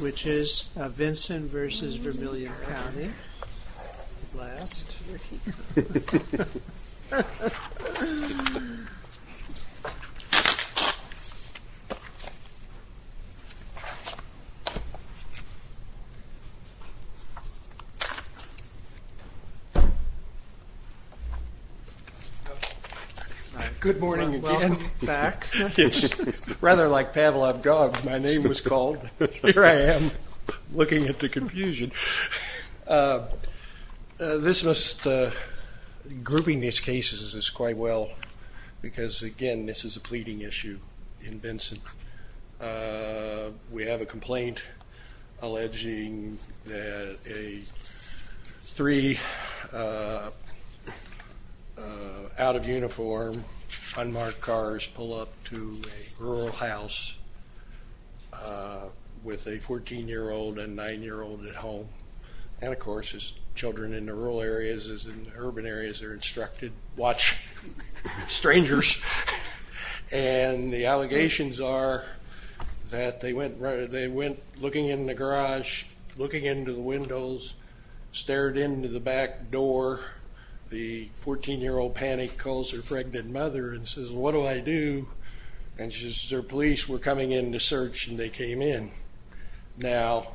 Which is Vinson v. Vermilion County, last. Good morning again, welcome back. It's rather like Pavlov dog, my name was called, here I am looking at the confusion. This must, grouping these cases is quite well, because again this is a pleading issue in Vinson. We have a complaint alleging that three out of uniform, unmarked cars pull up to a rural house with a 14-year-old and 9-year-old at home. And of course, as children in the rural areas, as in urban areas are instructed, watch strangers. And the allegations are that they went looking in the garage, looking into the windows, stared into the back door. The 14-year-old panicked, calls her pregnant mother and says, what do I do? And she says, their police were coming in to search and they came in. Now,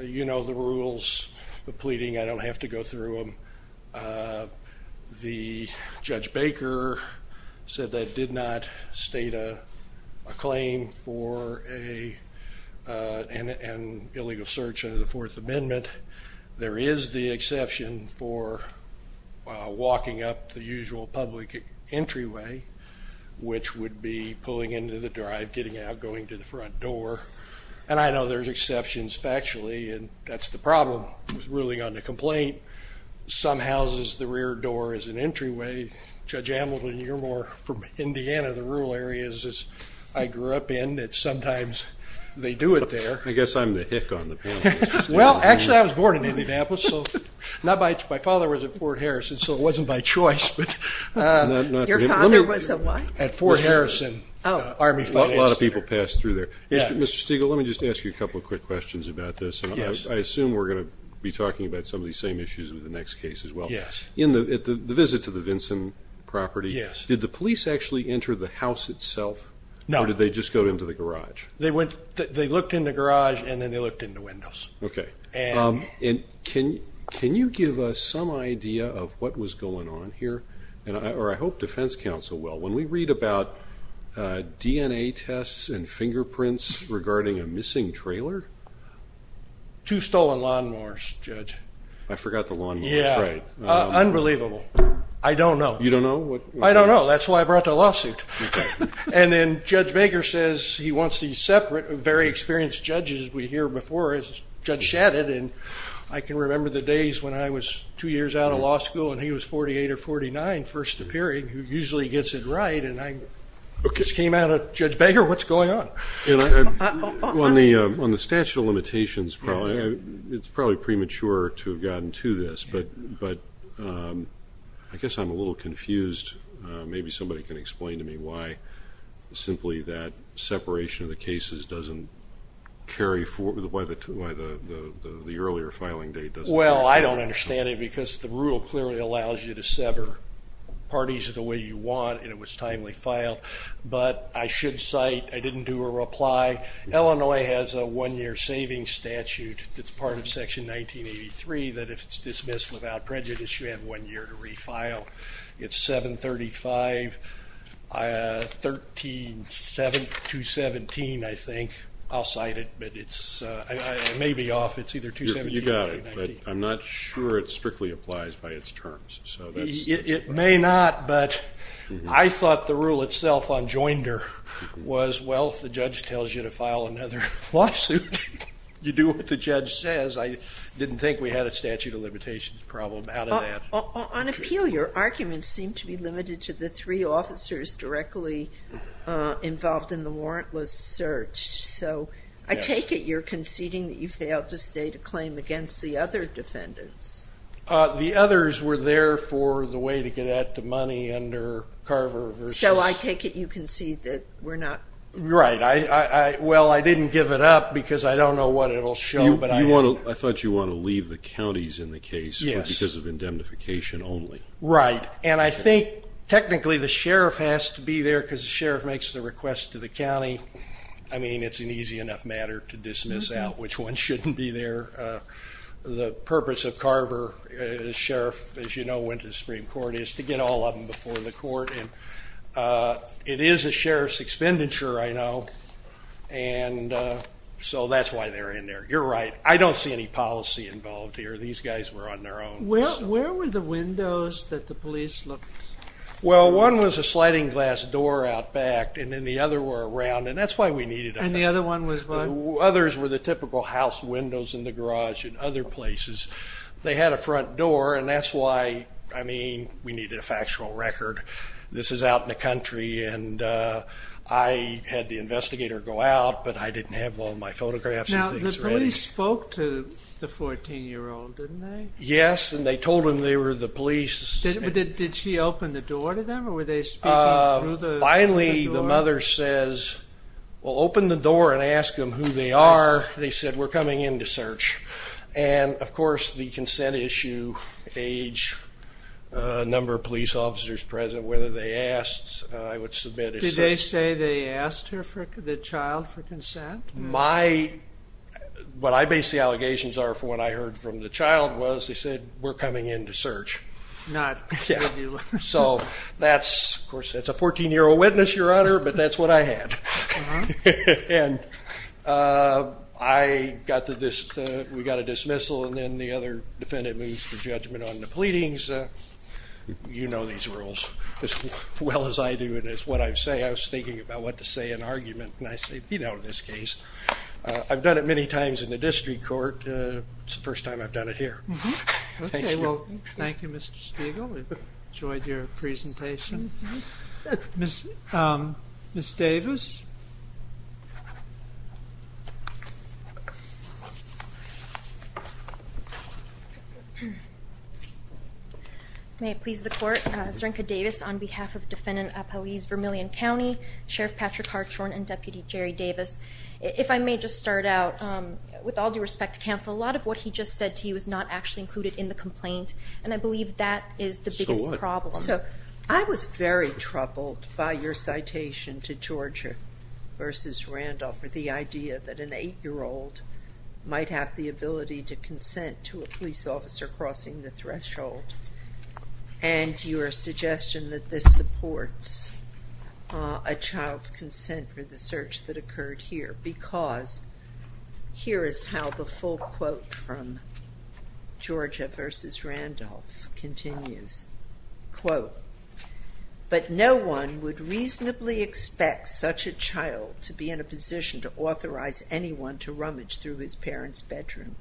you know the rules of pleading, I don't have to go through them. The Judge Baker said that did not state a claim for an illegal search under the Fourth Amendment. There is the exception for walking up the usual public entryway, which would be pulling into the drive, getting out, going to the front door. And I know there's exceptions factually, and that's the problem with ruling on the complaint. Some houses, the rear door is an entryway. Judge Hamilton, you're more from Indiana, the rural areas, as I grew up in, that sometimes they do it there. I guess I'm the hick on the panel. Well, actually, I was born in Indianapolis. My father was at Fort Harrison, so it wasn't by choice. Your father was at what? At Fort Harrison Army Finance Center. A lot of people passed through there. Mr. Stegall, let me just ask you a couple of quick questions about this. Yes. I assume we're going to be talking about some of these same issues with the next case as well. Yes. In the visit to the Vinson property, did the police actually enter the house itself? No. Or did they just go into the garage? They looked in the garage, and then they looked in the windows. Okay. And can you give us some idea of what was going on here? Or I hope defense counsel will. When we read about DNA tests and fingerprints regarding a missing trailer? Two stolen lawnmowers, Judge. I forgot the lawnmowers. Yeah. That's right. Unbelievable. I don't know. You don't know? I don't know. That's why I brought the lawsuit. Okay. And then Judge Baker says he wants these separate, very experienced judges we hear before, as Judge Shadid. And I can remember the days when I was two years out of law school, and he was 48 or 49, first appearing, who usually gets it right, and I just came out of, Judge Baker, what's going on? On the statute of limitations, it's probably premature to have gotten to this, but I guess I'm a little confused. Maybe somebody can explain to me why simply that separation of the cases doesn't carry forward, why the earlier filing date doesn't carry forward. Well, I don't understand it because the rule clearly allows you to sever parties the way you want, and it was timely filed. But I should cite, I didn't do a reply, Illinois has a one-year savings statute that's part of Section 1983 that if it's dismissed without prejudice, you have one year to refile. It's 735-217, I think. I'll cite it, but it may be off. It's either 217 or 219. You got it, but I'm not sure it strictly applies by its terms. It may not, but I thought the rule itself on Joinder was, well, if the judge tells you to file another lawsuit, you do what the judge says. I didn't think we had a statute of limitations problem out of that. On appeal, your arguments seem to be limited to the three officers directly involved in the warrantless search. So I take it you're conceding that you failed to state a claim against the other defendants. The others were there for the way to get at the money under Carver versus. So I take it you concede that we're not. Right. Well, I didn't give it up because I don't know what it will show. I thought you want to leave the counties in the case because of indemnification only. Right. And I think technically the sheriff has to be there because the sheriff makes the request to the county. I mean, it's an easy enough matter to dismiss out which one shouldn't be there. The purpose of Carver, the sheriff, as you know, went to the Supreme Court is to get all of them before the court. And it is a sheriff's expenditure, I know. And so that's why they're in there. You're right. I don't see any policy involved here. These guys were on their own. Where were the windows that the police looked? Well, one was a sliding glass door out back, and then the other were around. And that's why we needed them. And the other one was what? Others were the typical house windows in the garage and other places. They had a front door, and that's why, I mean, we needed a factual record. This is out in the country, and I had the investigator go out, but I didn't have all of my photographs and things ready. Now, the police spoke to the 14-year-old, didn't they? Yes, and they told him they were the police. Did she open the door to them, or were they speaking through the door? Well, open the door and ask them who they are. They said, we're coming in to search. And, of course, the consent issue, age, number of police officers present, whether they asked, I would submit as such. Did they say they asked her, the child, for consent? What I base the allegations are from what I heard from the child was they said, we're coming in to search. Not regular. Of course, that's a 14-year-old witness, Your Honor, but that's what I had. We got a dismissal, and then the other defendant moves for judgment on the pleadings. You know these rules as well as I do, and it's what I say. I was thinking about what to say in argument, and I say, you know, in this case. I've done it many times in the district court. It's the first time I've done it here. Okay, well, thank you, Mr. Stegall. We've enjoyed your presentation. Ms. Davis? May it please the court. Serenka Davis on behalf of Defendant Appellees Vermillion County, Sheriff Patrick Hartshorn, and Deputy Jerry Davis. If I may just start out. With all due respect to counsel, a lot of what he just said to you is not actually included in the complaint, and I believe that is the biggest problem. I was very troubled by your citation to Georgia versus Randolph for the idea that an 8-year-old might have the ability to consent to a police officer crossing the threshold. And your suggestion that this supports a child's consent for the search that occurred here. Because here is how the full quote from Georgia versus Randolph continues. Quote, but no one would reasonably expect such a child to be in a position to authorize anyone to rummage through his parent's bedroom.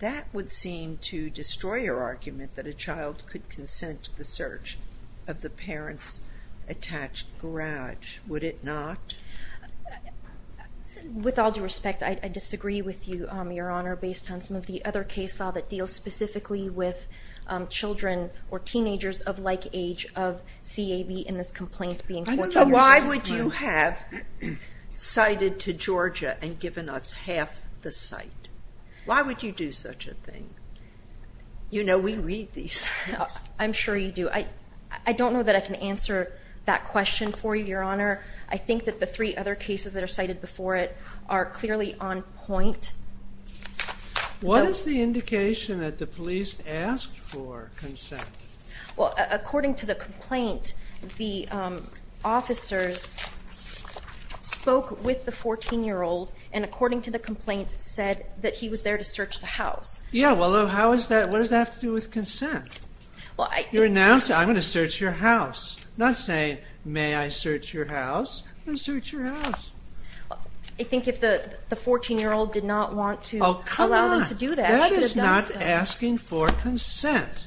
That would seem to destroy your argument that a child could consent to the search of the parent's attached garage. Would it not? With all due respect, I disagree with you, Your Honor, based on some of the other case law that deals specifically with children or teenagers of like age of CAB in this complaint. Why would you have cited to Georgia and given us half the site? Why would you do such a thing? You know, we read these. I'm sure you do. I don't know that I can answer that question for you, Your Honor. I think that the three other cases that are cited before it are clearly on point. What is the indication that the police asked for consent? Well, according to the complaint, the officers spoke with the 14-year-old and, according to the complaint, said that he was there to search the house. Yeah. Well, how is that? What does that have to do with consent? You're announcing, I'm going to search your house. Not saying, may I search your house. I'm going to search your house. I think if the 14-year-old did not want to allow them to do that. That is not asking for consent.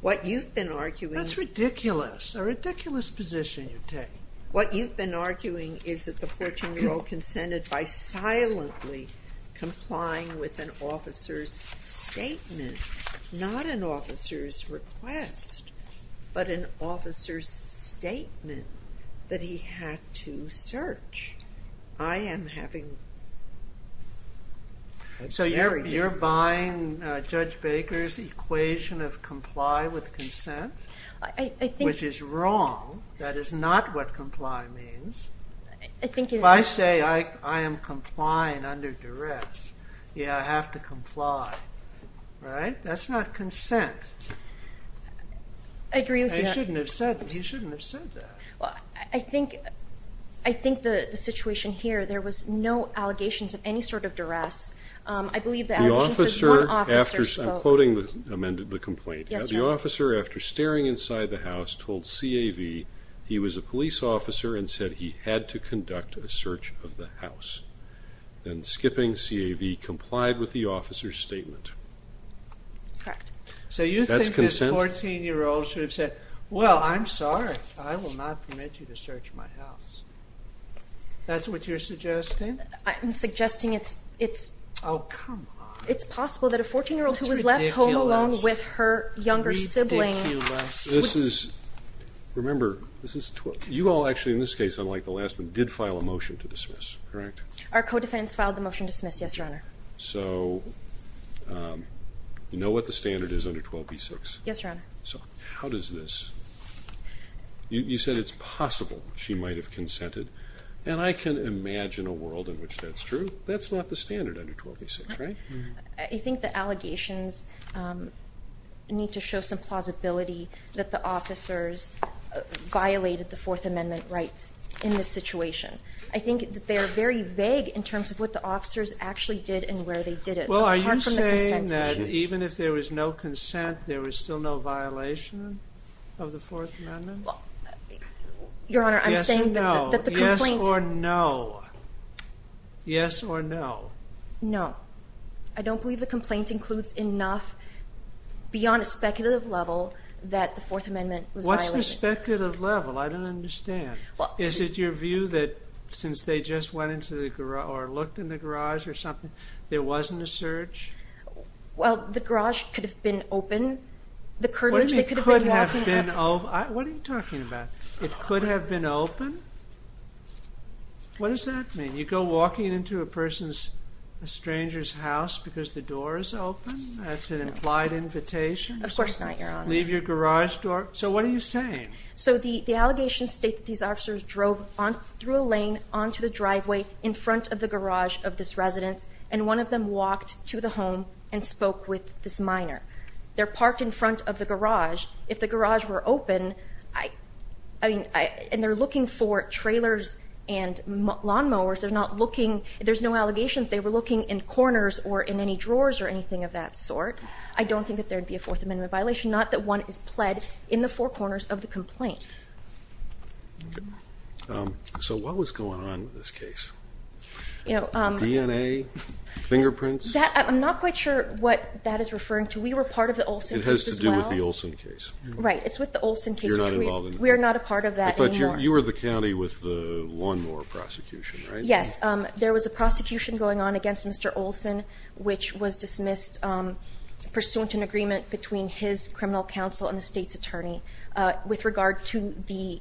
What you've been arguing. That's ridiculous. A ridiculous position you take. What you've been arguing is that the 14-year-old consented by silently complying with an officer's statement. Not an officer's request, but an officer's statement that he had to search. I am having... So you're buying Judge Baker's equation of comply with consent, which is wrong. That is not what comply means. If I say I am complying under duress, yeah, I have to comply. Right? That's not consent. I agree with you. He shouldn't have said that. I think the situation here, there was no allegations of any sort of duress. I believe that... The officer, I'm quoting the complaint. The officer, after staring inside the house, told CAV he was a police officer and said he had to conduct a search of the house. Then skipping CAV, complied with the officer's statement. Correct. So you think this 14-year-old should have said, well, I'm sorry. I will not permit you to search my house. That's what you're suggesting? I'm suggesting it's... Oh, come on. It's possible that a 14-year-old who was left home alone with her younger sibling... This is ridiculous. Remember, you all actually, in this case, unlike the last one, did file a motion to dismiss, correct? Our co-defendants filed the motion to dismiss, yes, Your Honor. Yes, Your Honor. So how does this... You said it's possible she might have consented, and I can imagine a world in which that's true. That's not the standard under 1286, right? I think the allegations need to show some plausibility that the officers violated the Fourth Amendment rights in this situation. I think they're very vague in terms of what the officers actually did and where they did it. Well, are you saying that even if there was no consent, there was still no violation of the Fourth Amendment? Your Honor, I'm saying that the complaint... Yes or no? Yes or no? No. I don't believe the complaint includes enough beyond a speculative level that the Fourth Amendment was violated. What's the speculative level? I don't understand. Is it your view that since they just went into the garage or looked in the garage or something, there wasn't a search? Well, the garage could have been open. What do you mean, could have been open? What are you talking about? It could have been open? What does that mean? You go walking into a stranger's house because the door is open? That's an implied invitation? Of course not, Your Honor. Leave your garage door... So what are you saying? So the allegations state that these officers drove through a lane onto the driveway in front of the garage of this residence, and one of them walked to the home and spoke with this minor. They're parked in front of the garage. If the garage were open, and they're looking for trailers and lawnmowers, they're not looking... There's no allegation that they were looking in corners or in any drawers or anything of that sort. I don't think that there would be a Fourth Amendment violation, not that one is pled in the four corners of the complaint. So what was going on with this case? DNA? Fingerprints? I'm not quite sure what that is referring to. We were part of the Olson case as well. It has to do with the Olson case. Right, it's with the Olson case. You're not involved in it? We are not a part of that anymore. But you were the county with the lawnmower prosecution, right? Yes, there was a prosecution going on against Mr. Olson, which was dismissed pursuant to an agreement between his criminal counsel and the state's attorney with regard to the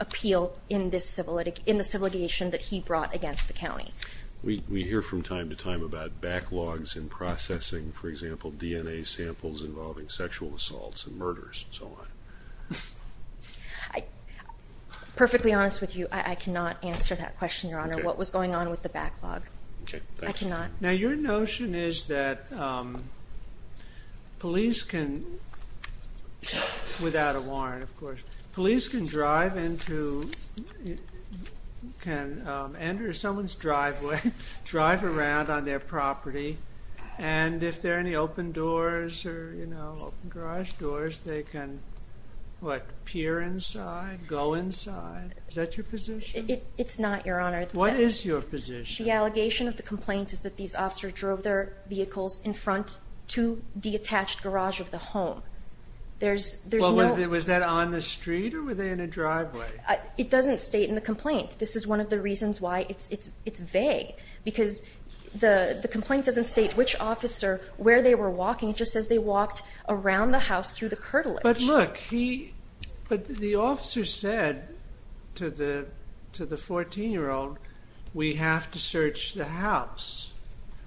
appeal in the civil litigation that he brought against the county. We hear from time to time about backlogs in processing, for example, DNA samples involving sexual assaults and murders and so on. Perfectly honest with you, I cannot answer that question, Your Honor. What was going on with the backlog? I cannot. Now your notion is that police can, without a warrant of course, police can drive into, can enter someone's driveway, drive around on their property, and if there are any open doors or open garage doors, they can, what, peer inside, go inside? Is that your position? It's not, Your Honor. What is your position? The allegation of the complaint is that these officers drove their vehicles in front to the attached garage of the home. Was that on the street or were they in a driveway? It doesn't state in the complaint. This is one of the reasons why it's vague because the complaint doesn't state which officer, where they were walking, it just says they walked around the house through the curtilage. But look, he, but the officer said to the 14-year-old, we have to search the house.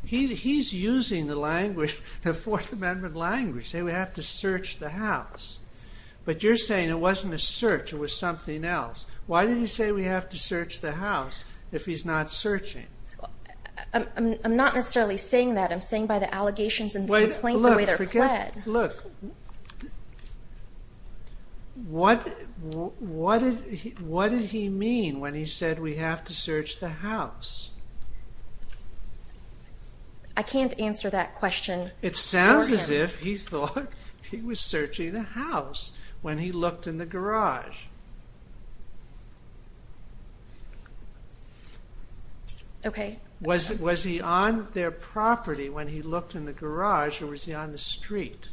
He's using the language, the Fourth Amendment language, saying we have to search the house. But you're saying it wasn't a search, it was something else. Why did he say we have to search the house if he's not searching? I'm not necessarily saying that. I'm saying by the allegations in the complaint the way they're pled. Look, what did he mean when he said we have to search the house? I can't answer that question for him. As if he thought he was searching the house when he looked in the garage. Was he on their property when he looked in the garage or was he on the street?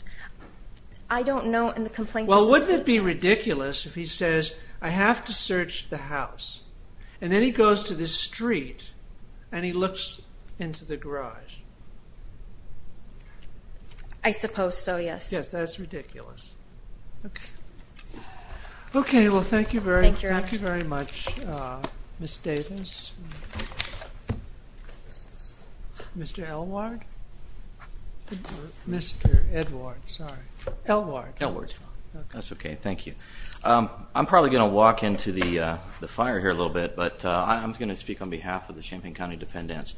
I don't know in the complaint. Well, wouldn't it be ridiculous if he says I have to search the house and then he goes to the street and he looks into the garage? I suppose so, yes. Yes, that's ridiculous. Okay, well, thank you very much, Ms. Davis. Mr. Elward? Mr. Edward, sorry. Elward. Elward. That's okay, thank you. I'm probably going to walk into the fire here a little bit, but I'm going to speak on behalf of the Champaign County defendants.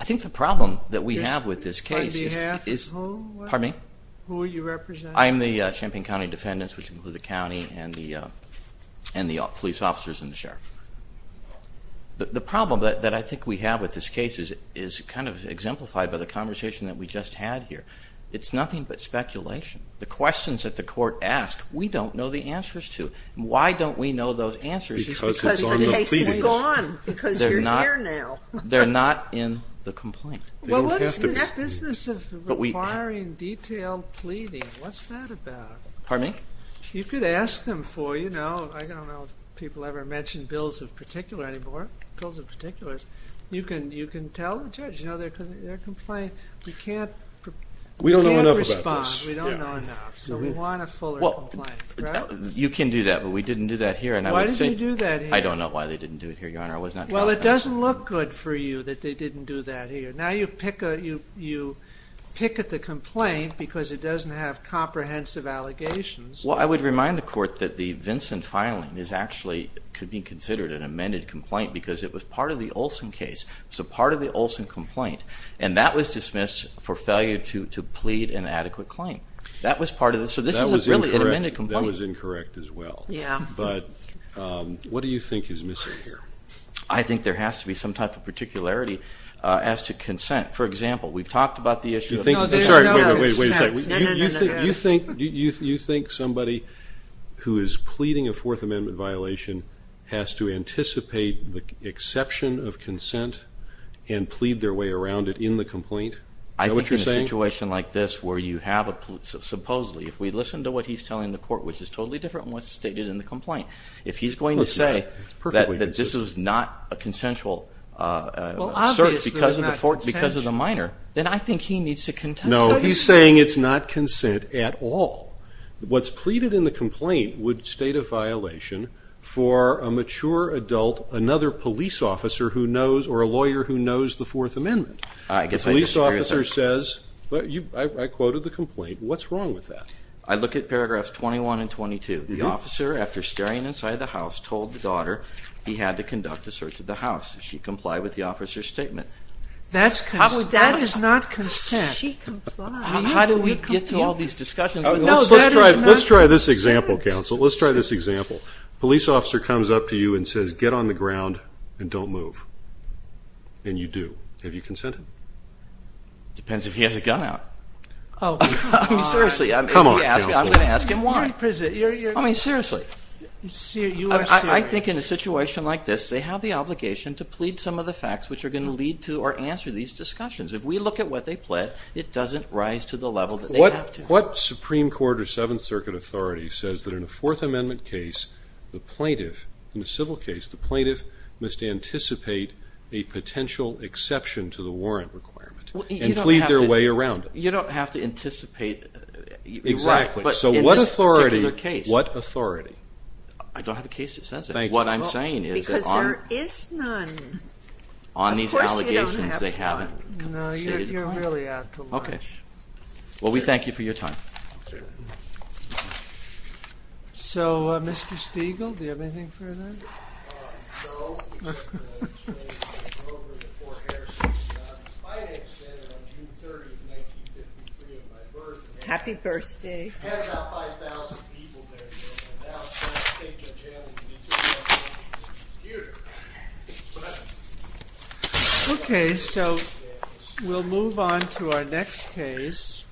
I think the problem that we have with this case is... On behalf of who? Pardon me? Who are you representing? I am the Champaign County defendants, which include the county and the police officers and the sheriff. The problem that I think we have with this case is kind of exemplified by the conversation that we just had here. It's nothing but speculation. The questions that the court asks, we don't know the answers to. Why don't we know those answers? Because the case is gone. Because you're here now. They're not in the complaint. Well, what is this business of requiring detailed pleading? What's that about? Pardon me? You could ask them for, you know, I don't know if people ever mention bills of particular anymore, bills of particulars. You can tell the judge, you know, they're complaining. We can't respond. We don't know enough. So we want a fuller complaint, right? You can do that, but we didn't do that here. And I would say... Why did you do that here? I don't know why they didn't do it here, Your Honor. I was not... Well, it doesn't look good for you that they didn't do that here. Now you picket the complaint because it doesn't have comprehensive allegations. Well, I would remind the court that the Vincent filing is actually, could be considered an amended complaint because it was part of the Olson case. It was a part of the Olson complaint. And that was dismissed for failure to plead an adequate claim. That was part of the... That was incorrect. So this is a really amended complaint. That was incorrect as well. Yeah. But what do you think is missing here? I think there has to be some type of particularity as to consent. For example, we've talked about the issue of... No, there's no consent. Wait a second. No, no, no. You think somebody who is pleading a Fourth Amendment violation has to Is that what you're saying? I think in a situation like this where you have a... Supposedly, if we listen to what he's telling the court, which is totally different from what's stated in the complaint, if he's going to say... Of course not. It's perfectly consistent... That this is not a consensual search. Well, obviously it's not consensual. Because of the minor. Then I think he needs to contest that. No, he's saying it's not consent at all. What's pleaded in the complaint would state a violation for a mature adult, another police officer who knows or a lawyer who knows the Fourth Amendment. I guess I disagree with that. The police officer says... I quoted the complaint. What's wrong with that? I look at paragraphs 21 and 22. The officer, after staring inside the house, told the daughter he had to conduct a search of the house. She complied with the officer's statement. That is not consent. She complied. How do we get to all these discussions? Let's try this example, counsel. Let's try this example. The police officer comes up to you and says, Get on the ground and don't move. And you do. Have you consented? It depends if he has a gun out. Seriously, I'm going to ask him why. Seriously. I think in a situation like this, they have the obligation to plead some of the facts which are going to lead to or answer these discussions. If we look at what they plead, it doesn't rise to the level that they have to. What Supreme Court or Seventh Circuit authority says that in a Fourth Amendment case, the plaintiff, in a civil case, the plaintiff must anticipate a potential exception to the warrant requirement and plead their way around it? You don't have to anticipate exactly. In this particular case, what authority? I don't have a case that says that. What I'm saying is that on these allegations, they haven't compensated. No, you're really out to lunch. Okay. Well, we thank you for your time. So, Mr. Stegall, do you have anything further? Happy birthday. Okay. Okay, so we'll move on to our next case.